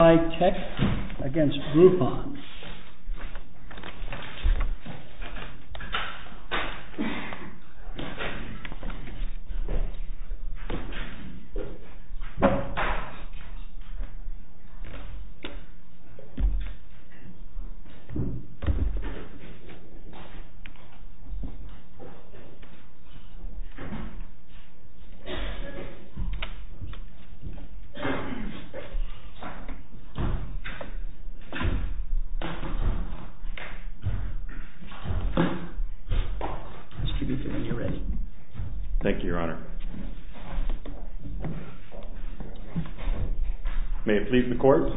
CY TECH v. GROUPON May it please the courts,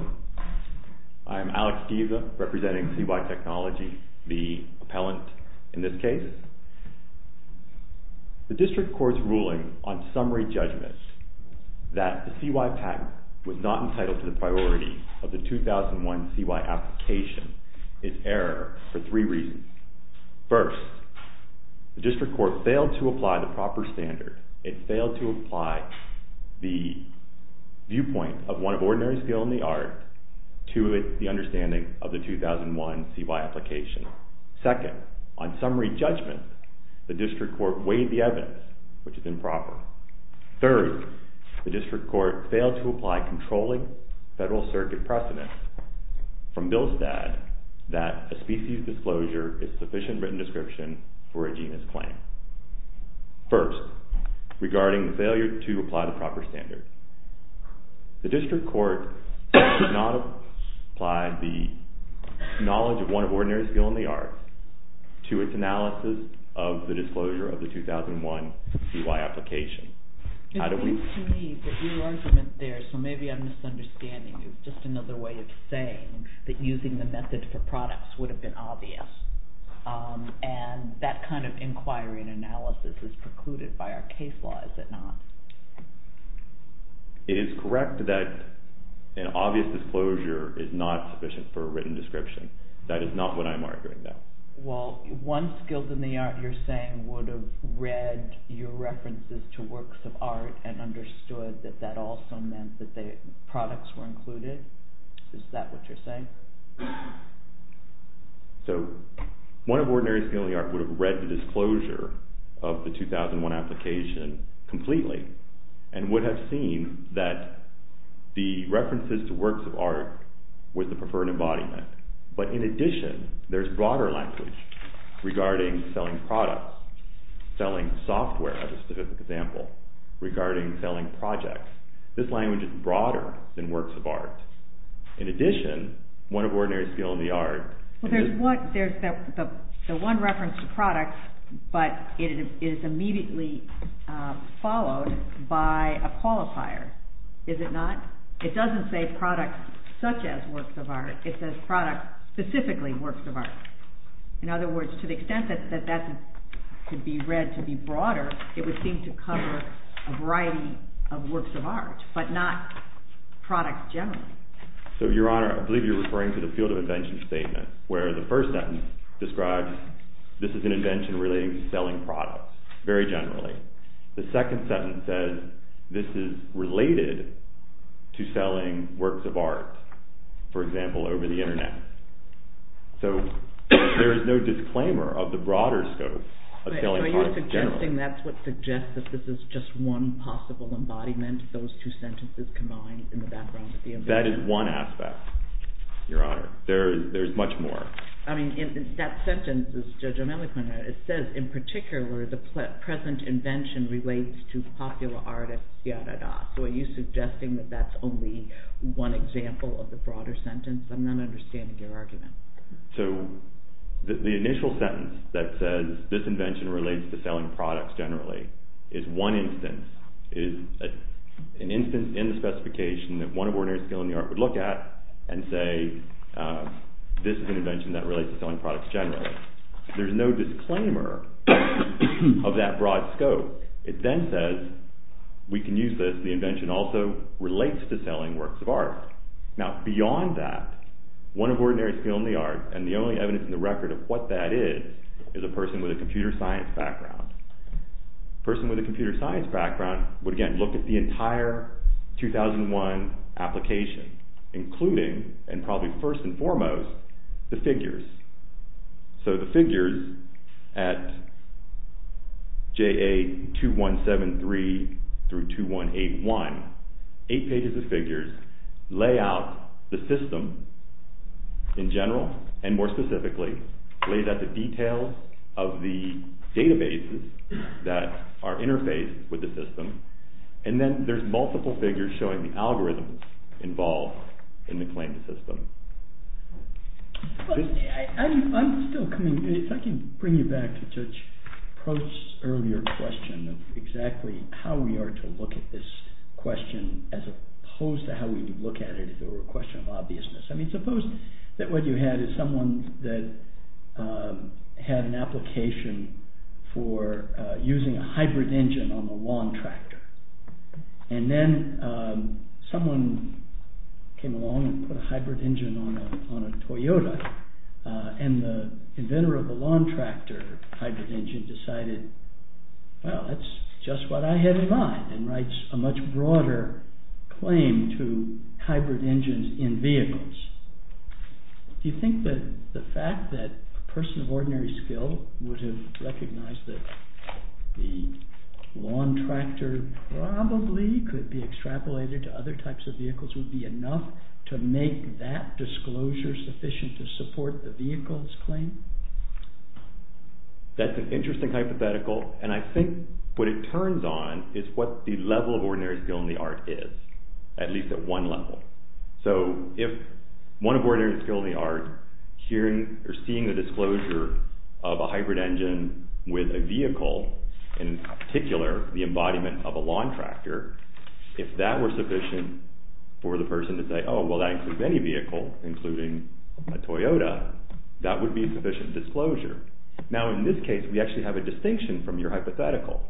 I am Alex Deva representing CY TECH, the appellant in this case. The district court's ruling on summary judgment that the CY patent was not entitled to the of the 2001 CY application is error for three reasons. First, the district court failed to apply the proper standard. It failed to apply the viewpoint of one of ordinary skill in the art to the understanding of the 2001 CY application. Second, on summary judgment the district court weighed the evidence, which is improper. Third, the district court failed to apply controlling federal circuit precedent from Billstad that a species disclosure is sufficient written description for a genus claim. First, regarding the failure to apply the proper standard, the district court did not apply the knowledge of one of ordinary skill in the art to its analysis of the disclosure of the 2001 CY application. It seems to me that your argument there, so maybe I'm misunderstanding you, is just another way of saying that using the method for products would have been obvious. And that kind of inquiry and analysis is precluded by our case law, is it not? It is correct that an obvious disclosure is not sufficient for a written description. That is not what I'm arguing though. Well, one skill in the art you're saying would have read your references to works of art and understood that that also meant that products were included? Is that what you're saying? So, one of ordinary skill in the art would have read the disclosure of the 2001 application completely, and would have seen that the references to works of art were the preferred embodiment. But in addition, there's broader language regarding selling products, selling software, as a specific example, regarding selling projects. This language is broader than works of art. In addition, one of ordinary skill in the art... Well, there's the one reference to products, but it is immediately followed by a qualifier, is it not? It doesn't say products such as works of art, it says products specifically works of art. In other words, to the extent that that could be read to be broader, it would seem to cover a variety of works of art, but not products generally. So, Your Honor, I believe you're referring to the field of invention statement, where the first sentence describes this is an invention relating to selling products, very generally. The second sentence says this is related to selling works of art, for example, over the internet. So, there is no disclaimer of the broader scope of selling products generally. So, you're suggesting that's what suggests that this is just one possible embodiment, those two sentences combined in the background of the invention? That is one aspect, Your Honor. There's much more. I mean, in that sentence, Judge O'Malley pointed out, it says in particular the present invention relates to popular artists, etc. So, are you suggesting that that's only one example of the broader sentence? I'm not understanding your argument. So, the initial sentence that says this invention relates to selling products generally, is one instance, is an instance in the specification that one of ordinary skill in the art would look at and say this is an invention that relates to selling products generally. There's no disclaimer of that broad scope. It then says we can use this, the invention also relates to selling works of art. Now, beyond that, one of ordinary skill in the art, and the only evidence in the record of what that is, is a person with a computer science background. A person with a computer science background would, again, look at the entire 2001 application, including, and probably first and foremost, the figures. So, the figures at JA 2173-2181, eight pages of figures, lay out the system in general, and more specifically, lay out the details of the databases that are interfaced with the system, and then there's multiple figures showing the algorithms involved in the claim to system. I'm still coming, if I can bring you back to Judge Prost's earlier question of exactly how we are to look at this question, as opposed to how we would look at it if it were a question of obviousness. I mean, suppose that what and then someone came along and put a hybrid engine on a Toyota, and the inventor of the lawn tractor hybrid engine decided, well, that's just what I had in mind, and writes a much broader claim to hybrid engines in vehicles. Do you think that the fact that a person of ordinary skill would have recognized that the lawn tractor probably could be extrapolated to other types of vehicles would be enough to make that disclosure sufficient to support the vehicle's claim? That's an interesting hypothetical, and I think what it turns on is what the level of ordinary skill in the art is, at least at one level. So, if one of ordinary skill in the art, hearing or seeing the disclosure of a hybrid engine with a vehicle, and in particular, the embodiment of a lawn tractor, if that were sufficient for the person to say, oh, well, that includes any vehicle, including a Toyota, that would be sufficient disclosure. Now, in this case, we actually have a distinction from your hypothetical.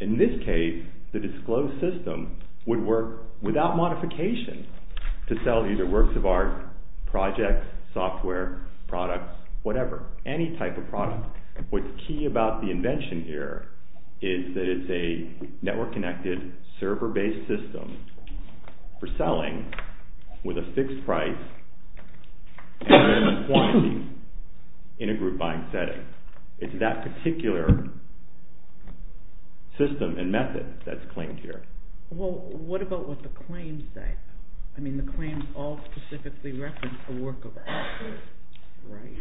In this case, the disclosed system would work without modification to sell either works of art, projects, software, products, whatever, any type of product. What's key about the invention here is that it's a network-connected, server-based system for selling with a fixed price and minimum quantity in a group buying setting. It's that particular system and method that's claimed here. Well, what about what the claims say? I mean, the claims all specifically reference a work of art. Right.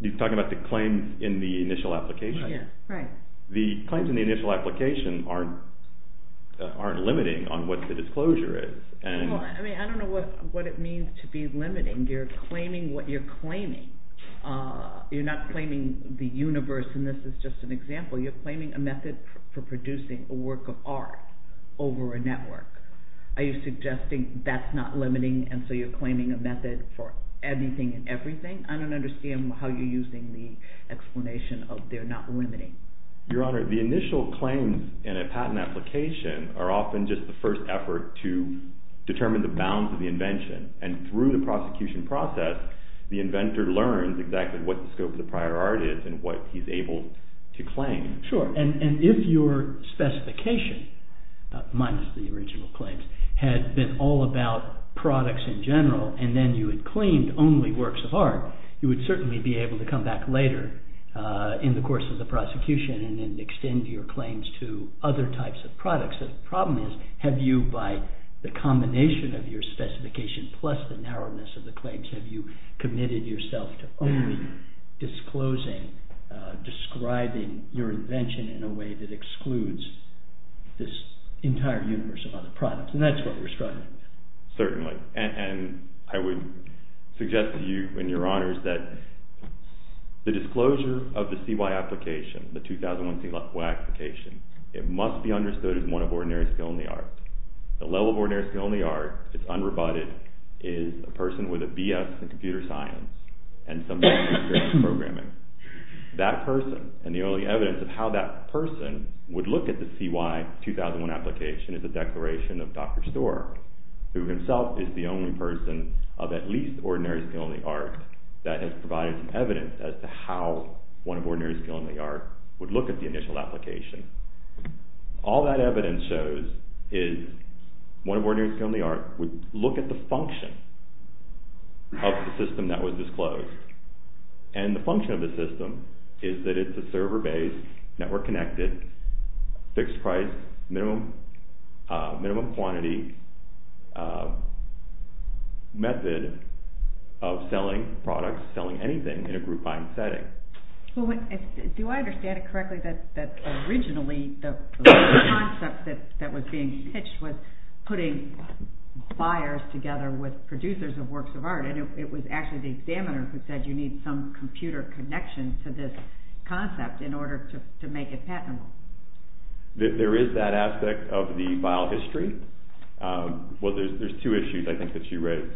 You're talking about the claims in the initial application? Yeah. Right. The claims in the initial application aren't limiting on what the disclosure is. Well, I mean, I don't know what it means to be limiting. You're claiming what you're claiming. You're not claiming the universe, and this is just an example. You're claiming a method for producing a work of art over a network. Are you suggesting that's not limiting, and so you're claiming a method for anything and everything? I don't understand how you're using the explanation of they're not limiting. Your Honor, the initial claims in a patent application are often just the first effort to determine the bounds of the invention, and through the prosecution process, the inventor learns exactly what the scope of the prior art is and what he's able to claim. Sure. And if your specification, minus the original claims, had been all about products in general, and then you had claimed only works of art, you would certainly be able to come back later in the course of the prosecution and then extend your claims to other types of products. The problem is, have you, by the combination of your specification plus the narrowness of the claims, have you committed yourself to only disclosing, describing your invention in a way that excludes this entire universe of other products, and that's what we're struggling with. Certainly, and I would suggest to you and your Honors that the disclosure of the CY application, the 2001 CY application, it must be understood as one of ordinary skill in the art. The level of ordinary skill in the art, it's unroboted, is a person with a B.S. in computer science and some experience in programming. That person and the early evidence of how that person would look at the CY 2001 application is a declaration of Dr. Storer, who himself is the only person of at least ordinary skill in the art that has provided evidence as to how one of ordinary skill in the art would look at the initial application. All that evidence shows is one of ordinary skill in the art would look at the function of the system that was disclosed, and the function of the system is that it's a server-based, network-connected, fixed-price, minimum quantity method of selling products, selling anything in a group buying setting. Do I understand it correctly that originally the concept that was being pitched was putting buyers together with producers of works of art, and it was actually the examiner who said you need some computer connection to this concept in order to make it patentable. There is that aspect of the file history. Well, there's two issues I think that you raised,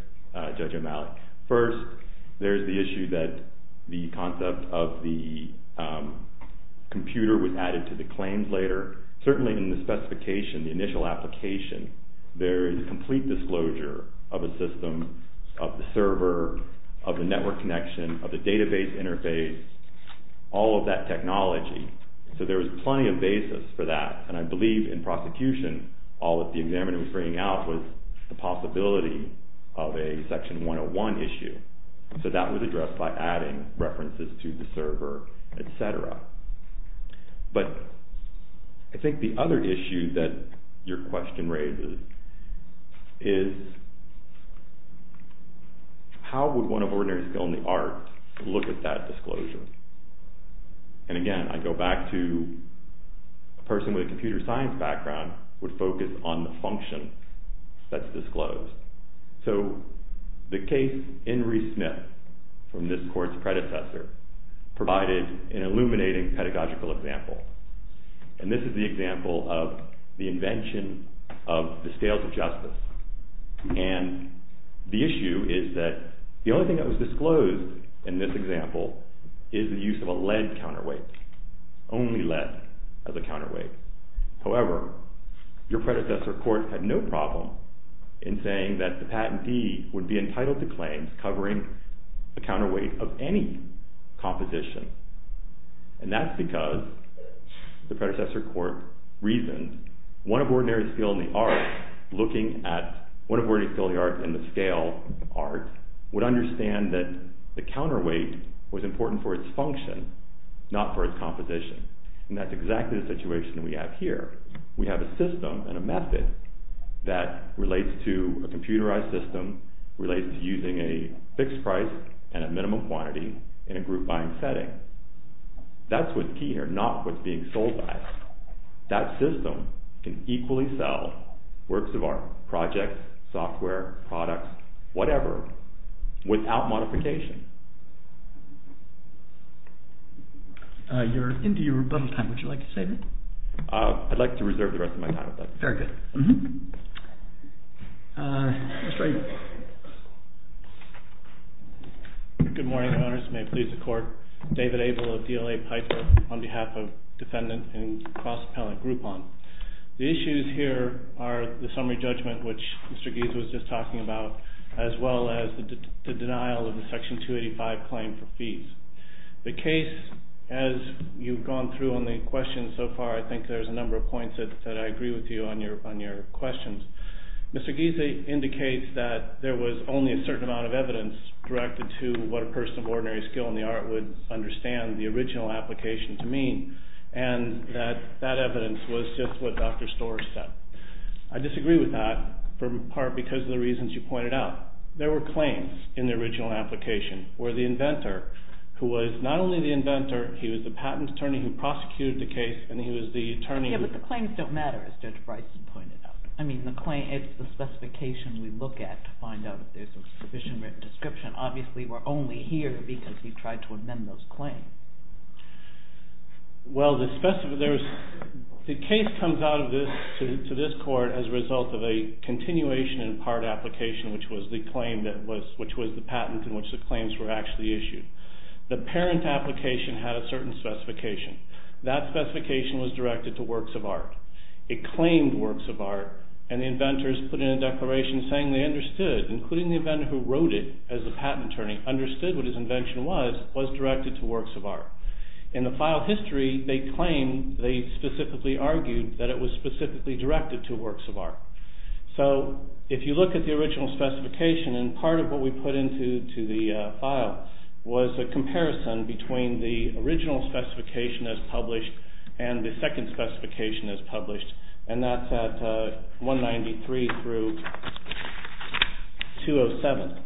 Judge O'Malley. First, there's the issue that the concept of the computer was a complete disclosure of a system of the server, of the network connection, of the database interface, all of that technology, so there was plenty of basis for that, and I believe in prosecution all that the examiner was bringing out was the possibility of a Section 101 issue, so that was addressed by adding references to the server, et cetera. But I think the other issue that your question raises is how would one of ordinary skill in the art look at that disclosure? And again, I go back to a person with a computer science background would focus on the function that's disclosed. So the case in Reece Smith from this court's predecessor provided an illuminating pedagogical example, and this is the example of the invention of the scales of justice. And the issue is that the only thing that was disclosed in this example is the use of a lead counterweight, only lead as a counterweight. However, your predecessor court had no problem in saying that the patentee would be entitled to claim covering the counterweight of any composition, and that's because the predecessor court reasoned one of ordinary skill in the art in the scale art would understand that the counterweight was important for its function, not for its composition, and that's exactly the situation we have here. We have a system and a method that relates to a computerized system, relates to using a fixed price and a minimum quantity in a group buying setting. That's what's key here, not what's being sold by us. That system can equally sell works of art, projects, software, products, whatever, without modification. You're into your rebuttal time, would you like to save it? I'd like to reserve the rest of my time. Very good. Good morning, may it please the court. David Abel of DLA Piper, on behalf of defendant and cross-appellant Groupon. The issues here are the summary judgment, which Mr. Gieser was just talking about, as well as the denial of the Section 285 claim for fees. The case, as you've gone through on the questions so far, I think there's a number of points that I agree with you on your questions. Mr. Gieser indicates that there was only a certain amount of evidence directed to what a person of ordinary skill in the art would understand the original application to mean, and that that evidence was just what Dr. Storer said. I disagree with that, in part because of the reasons you pointed out. There were claims in the original application, where the inventor, who was not only the inventor, he was the patent attorney who prosecuted the case, and he was the attorney who... Yeah, but the claims don't matter, as Judge Bryson pointed out. I mean, the claim, it's the specification we look at to find out if there's a sufficient written description. Obviously, we're only here because he tried to amend those claims. Well, the case comes out of this, to this court, as a result of a continuation in part application, which was the patent in which the claims were actually issued. The parent application had a certain specification. That specification was directed to works of art. It claimed works of art, and the inventors put in a declaration saying they understood, including the inventor who wrote it as the patent attorney, understood what his invention was, was directed to works of art. In the file history, they claim, they specifically argued that it was specifically directed to works of art. So, if you look at the original specification, and part of what we put into the file was a comparison between the original specification as published and the second specification as published, and that's at 193 through 207.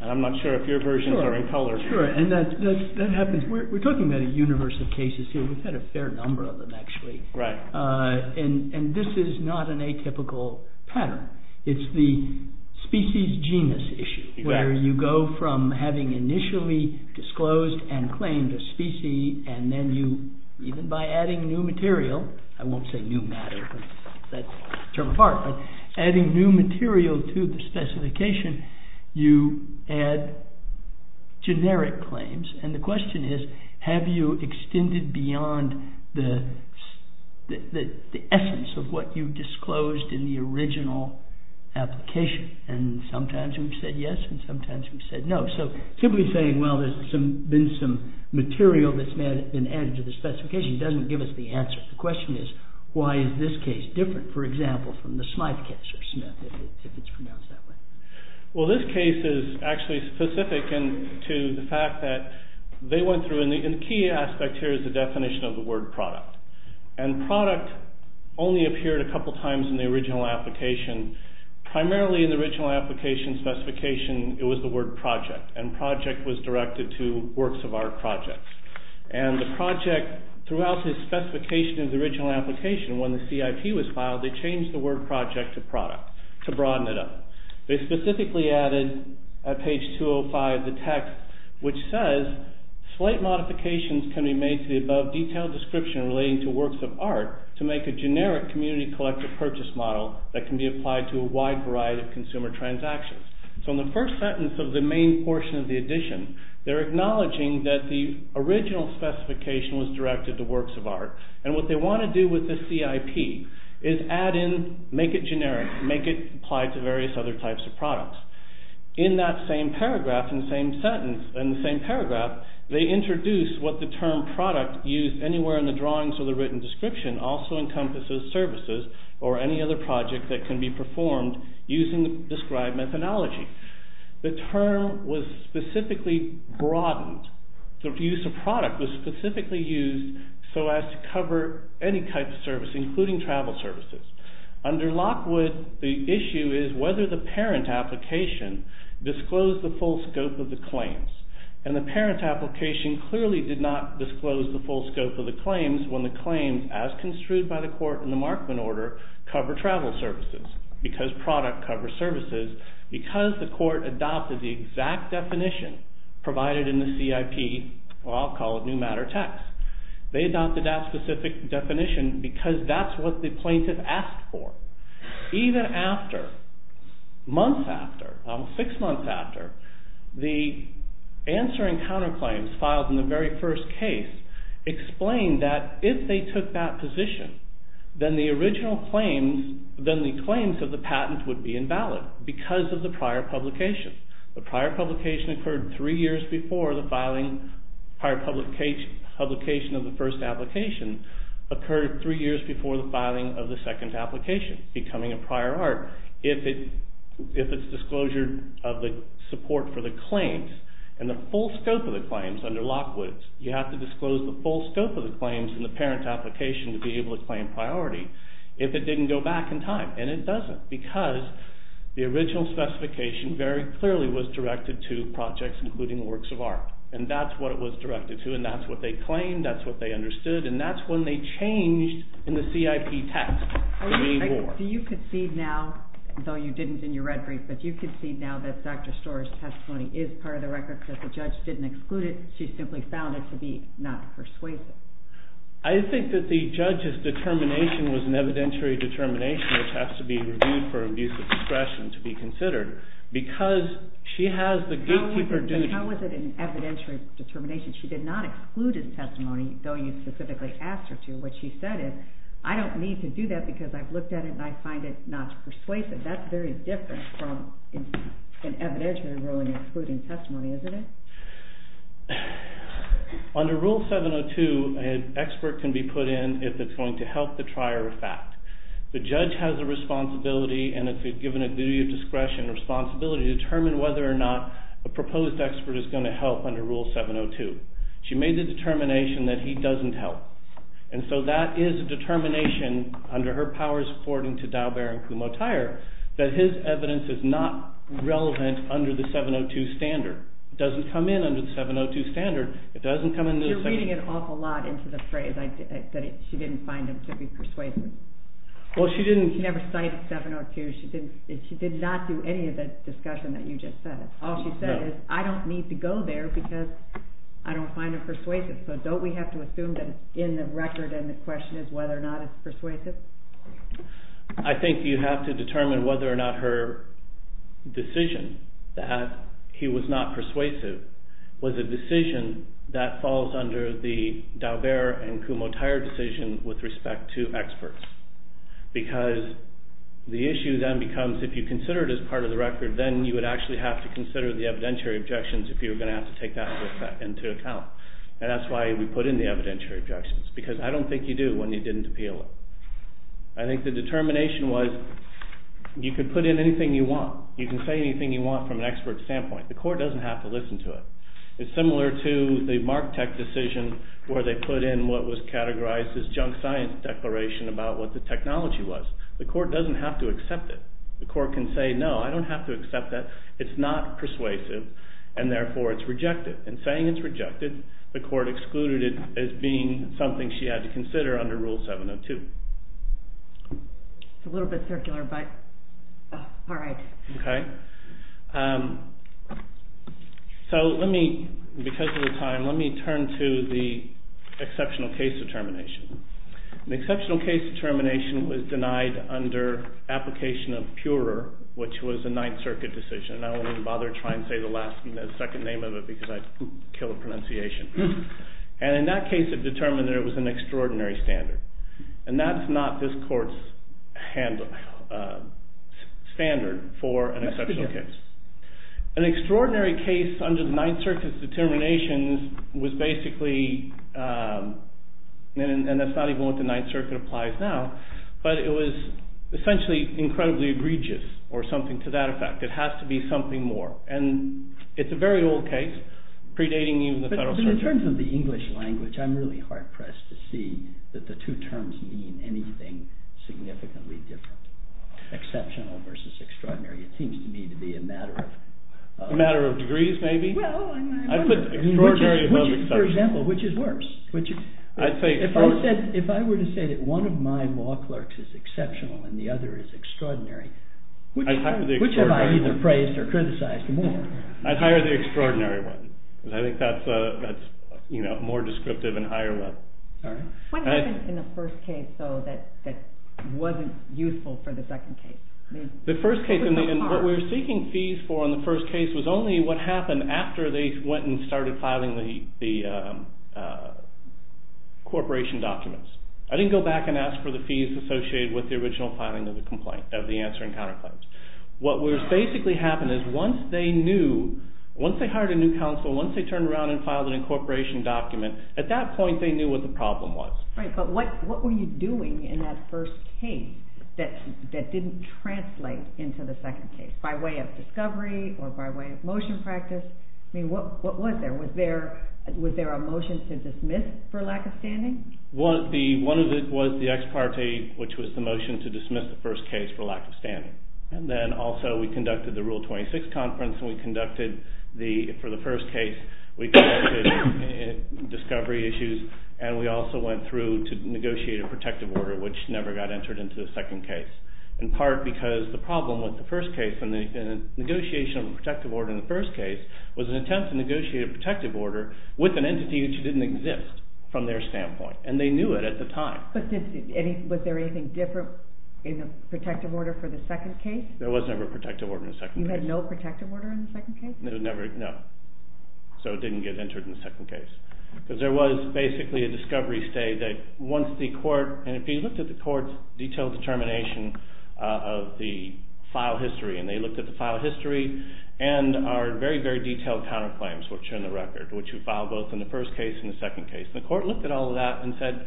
And I'm not sure if your versions are in color. Sure, and that happens. We're talking about a universe of cases here. We've had a fair number of them, actually. And this is not an atypical pattern. It's the species-genus issue, where you go from having initially disclosed and claimed a species, and then you, even by adding new material, I won't say new matter, that's a term of art, but adding new material to the specification, you add generic claims. And the question is, have you extended beyond the essence of what you disclosed in the original application? And sometimes we've said yes, and sometimes we've said no. So, simply saying, well, there's been some material that's been added to the specification doesn't give us the answer. The question is, why is this case different, for example, from the Smythe case, or Smith, if it's pronounced that way? Well, this case is actually specific to the fact that they went through, and the key aspect here is the definition of the word product. And product only appeared a couple times in the original application. Primarily, in the original application specification, it was the word project, and project was directed to works of art projects. And the project, throughout the specification of the original application, when the CIP was filed, they changed the word project to product, to broaden it up. They specifically added, at page 205, the text which says, slight modifications can be made to the above detailed description relating to works of art to make a generic community collective purchase model that can be applied to a wide variety of consumer transactions. So, in the first sentence of the main portion of the addition, they're acknowledging that the original specification was directed to works of art, and what they want to do with the CIP is add in, make it generic, make it apply to various other types of products. In that same paragraph, in the same sentence, in the same paragraph, they introduce what the term product used anywhere in the drawings or the written description also encompasses services or any other project that can be performed using the described methodology. The term was specifically broadened. The use of product was specifically used so as to cover any type of service, including travel services. Under Lockwood, the issue is whether the parent application disclosed the full scope of the claims. And the parent application clearly did not disclose the full scope of the claims when the claims, as construed by the court in the Markman order, cover travel services, because product covers services, because the court adopted the exact definition provided in the CIP, or I'll call it new matter text. They adopted that specific definition because that's what the plaintiff asked for. Even after, months after, six months after, the answering counterclaims filed in the very first case explained that if they took that position, then the original claims, then the claims of the patent would be invalid because of the prior publication. The prior publication occurred three years before the filing, prior publication of the first application occurred three years before the filing of the second application, becoming a prior art if it's disclosure of the support for the claims and the full scope of the claims under Lockwood, you have to disclose the full scope of the claims in the parent application to be able to claim priority if it didn't go back in time. And it doesn't because the original specification very clearly was directed to projects including works of art. And that's what it was directed to and that's what they claimed, that's what they understood, and that's when they changed in the CIP text. Do you concede now, though you didn't in your red brief, but do you concede now that Dr. Storer's testimony is part of the record, that the judge didn't exclude it, she simply found it to be not persuasive? I think that the judge's determination was an evidentiary determination which has to be reviewed for abuse of discretion to be considered because she has the gatekeeper duty. How was it an evidentiary determination? She did not exclude his testimony, though you specifically asked her to. What she said is, I don't need to do that because I've looked at it and I find it not persuasive. That's very different from an evidentiary ruling excluding testimony, isn't it? Under Rule 702, an expert can be put in if it's going to help the trier of fact. The judge has a responsibility and it's given a duty of discretion and responsibility to determine whether or not a proposed expert is going to help under Rule 702. She made a determination that he doesn't help. And so that is a determination under her powers according to Daubert and Kumho-Tyre that his evidence is not relevant under the 702 standard. It doesn't come in under the 702 standard. You're reading an awful lot into the phrase that she didn't find it to be persuasive. She never cited 702. She did not do any of the discussion that you just said. All she said is, I don't need to go there because I don't find it persuasive. So don't we have to assume that it's in the record and the question is whether or not it's persuasive? I think you have to determine whether or not her decision that he was not persuasive was a decision that falls under the Daubert and Kumho-Tyre decision with respect to experts. Because the issue then becomes, if you consider it as part of the record, then you would actually have to consider the evidentiary objections if you were going to have to take that into account. And that's why we put in the evidentiary objections. Because I don't think you do when you didn't appeal it. I think the determination was, you could put in anything you want. You can say anything you want from an expert standpoint. The court doesn't have to listen to it. It's similar to the Marktech decision where they put in what was categorized as junk science declaration about what the technology was. The court doesn't have to accept it. The court can say, no, I don't have to accept that. It's not persuasive and therefore it's rejected. And saying it's rejected, the court excluded it as being something she had to consider under Rule 702. It's a little bit circular, but all right. Okay. So let me, because of the time, let me turn to the exceptional case determination. An exceptional case determination was denied under application of Purer, which was a Ninth Circuit decision. And I won't even bother trying to say the second name of it because I'd kill the pronunciation. And in that case, it determined that it was an extraordinary standard. And that's not this court's handle, standard for an exceptional case. An extraordinary case under the Ninth Circuit's determination was basically an exceptional standard. And that's not even what the Ninth Circuit applies now, but it was essentially incredibly egregious or something to that effect. It has to be something more. And it's a very old case, predating even the Federal Circuit. But in terms of the English language, I'm really hard-pressed to see that the two terms mean anything significantly different. Exceptional versus extraordinary. It seems to me to be a matter of... A matter of degrees, maybe. Well, I mean... I put extraordinary above exceptional. Which is, for example, which is worse? Which is... I'd say... If I were to say that one of my law clerks is exceptional and the other is extraordinary... I'd hire the extraordinary one. Which have I either praised or criticized more? I'd hire the extraordinary one. Because I think that's, you know, more descriptive and higher level. All right. What happened in the first case, though, that wasn't useful for the second case? The first case, what we were seeking fees for in the first case was only what happened after they went and started filing the corporation documents. I didn't go back and ask for the fees associated with the original filing of the complaint, of the answering counterclaims. What would basically happen is once they knew, once they hired a new counsel, once they turned around and filed an incorporation document, at that point they knew what the problem was. Right. But what were you doing in that first case that didn't translate into the second case by way of discovery or by way of motion practice? I mean, what was there? Was there a motion to dismiss for lack of standing? One of it was the ex parte, which was the motion to dismiss the first case for lack of standing. And then also we conducted the Rule 26 conference and we conducted the... For the first case, we conducted discovery issues and we also went through to negotiate a protective order, which never got entered into the second case. In part because the problem with the first case and the negotiation of the protective order in the first case was an attempt to negotiate a protective order with an entity which didn't exist from their standpoint. And they knew it at the time. But was there anything different in the protective order for the second case? There was never a protective order in the second case. You had no protective order in the second case? No. So it didn't get entered in the second case. Because there was basically a discovery state that once the court... of the file history. And they looked at the file history and our very, very detailed counterclaims, which are in the record, which we filed both in the first case and the second case. The court looked at all of that and said,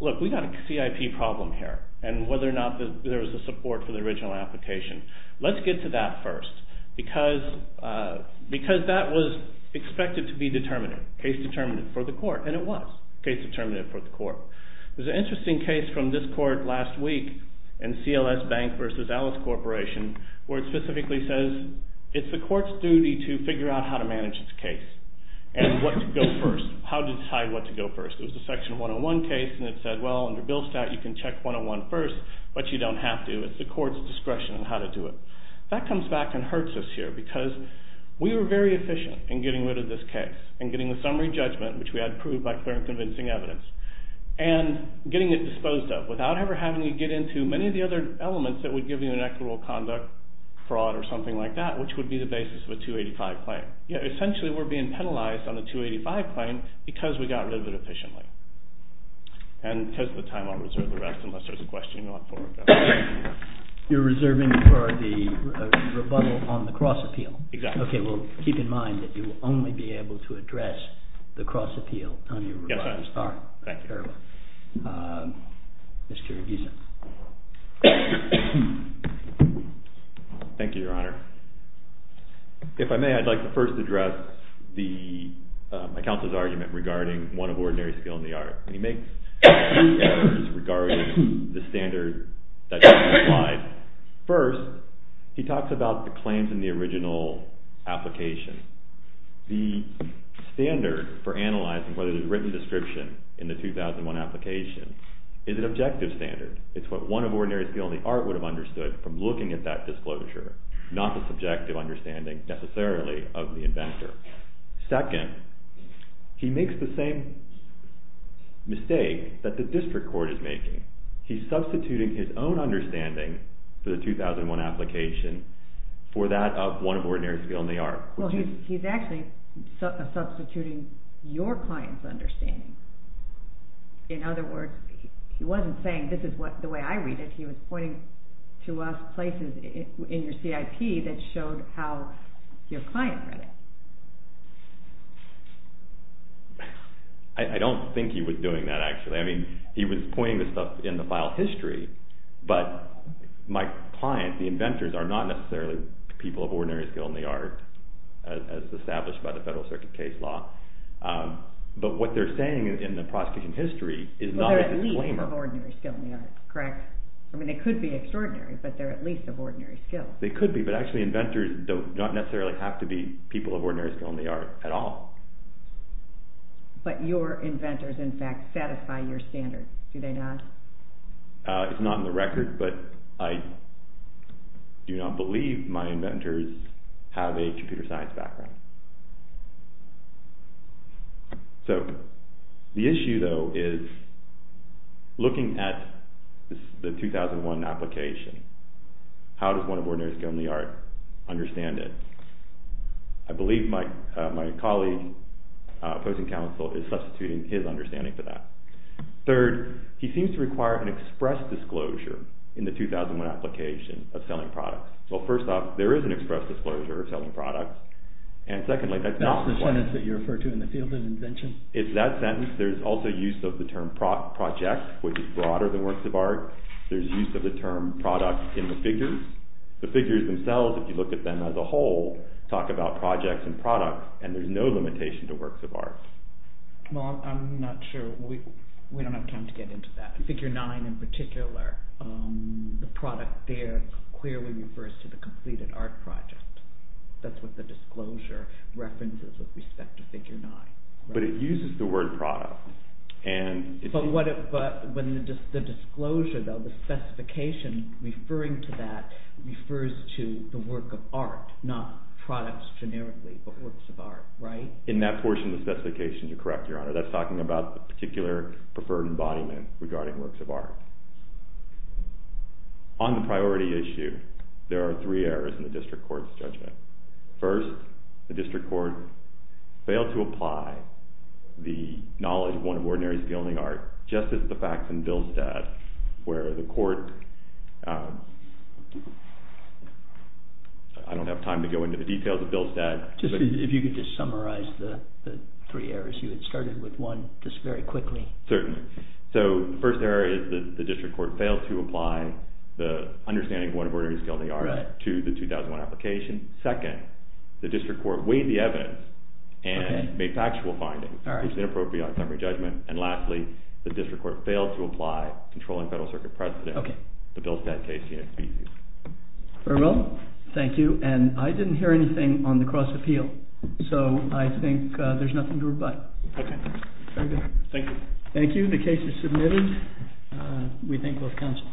look, we got a CIP problem here. And whether or not there was a support for the original application. Let's get to that first. Because that was expected to be determinative. Case determinative for the court. And it was case determinative for the court. There's an interesting case from this court last week in CLS Bank vs. Alice Corporation where it specifically says it's the court's duty to figure out how to manage its case. And what to go first. How to decide what to go first. It was a section 101 case and it said, well, under Billstat you can check 101 first, but you don't have to. It's the court's discretion on how to do it. That comes back and hurts us here. Because we were very efficient in getting rid of this case. And getting the summary judgment, which we had proved by clear and convincing evidence. And getting it disposed of without ever having to get into many of the other elements that would give you an equitable conduct fraud or something like that, which would be the basis of a 285 claim. Essentially, we're being penalized on the 285 claim because we got rid of it efficiently. And because of the time, I'll reserve the rest, unless there's a question you want. You're reserving for the rebuttal on the cross appeal? Exactly. Okay, well, keep in mind that you will only be able to address the cross appeal on your rebuttal. Yes, I understand. Thank you. Mr. Gieson. Thank you, Your Honor. If I may, I'd like to first address my counsel's argument regarding one of ordinary skill in the art. He makes two points regarding the standard that you just applied. First, he talks about the claims in the original application. The standard for analyzing whether there's a written description in the 2001 application is an objective standard. It's what one of ordinary skill in the art would have understood from looking at that disclosure, not the subjective understanding necessarily of the inventor. Second, he makes the same mistake that the district court is making. He's substituting his own understanding for the 2001 application for that of one of ordinary skill in the art. Well, he's actually substituting your client's understanding. In other words, he wasn't saying this is the way I read it. He was pointing to places in your CIP that showed how your client read it. I don't think he was doing that, actually. I mean, he was pointing to stuff in the file history, but my client, the inventors, are not necessarily people of ordinary skill in the art, as established by the Federal Circuit case law. But what they're saying in the prosecution history is not a disclaimer. Well, they're at least of ordinary skill in the art, correct? I mean, they could be extraordinary, but they're at least of ordinary skill. They could be, but actually inventors don't necessarily have to be people of ordinary skill in the art at all. But your inventors, in fact, satisfy your standards, do they not? It's not in the record, but I do not believe my inventors have a computer science background. So, the issue, though, is looking at the 2001 application. How does one of ordinary skill in the art understand it? I believe my colleague, opposing counsel, is substituting his understanding for that. Third, he seems to require an express disclosure in the 2001 application of selling products. Well, first off, there is an express disclosure of selling products, and secondly, that's not the point. That's the sentence that you refer to in the field of invention? It's that sentence. There's also use of the term project, which is broader than works of art. There's use of the term product in the figures. The figures themselves, if you look at them as a whole, talk about projects and products, and there's no limitation to works of art. Well, I'm not sure. We don't have time to get into that. Figure 9, in particular, the product there clearly refers to the completed art project. That's what the disclosure references with respect to Figure 9. But it uses the word product. But the disclosure, though, the specification referring to that, refers to the work of art, not products generically, but works of art, right? In that portion of the specification, you're correct, Your Honor. That's talking about the particular preferred embodiment regarding works of art. On the priority issue, there are three errors in the district court's judgment. First, the district court failed to apply the knowledge of one of Ordinary's Gilding Art just as the facts in Billstad, where the court... I don't have time to go into the details of Billstad. Just if you could just summarize the three errors. You had started with one just very quickly. Certainly. So, the first error is that the district court failed to apply the understanding of one of Ordinary's Gilding Art to the 2001 application. Second, the district court weighed the evidence and made factual findings, which is inappropriate on summary judgment. And lastly, the district court failed to apply controlling federal circuit precedent to Billstad case in its B.C. Very well. Thank you. And I didn't hear anything on the cross appeal. So, I think there's nothing to rebut. Okay. Thank you. Thank you. The case is submitted. We thank both counsels.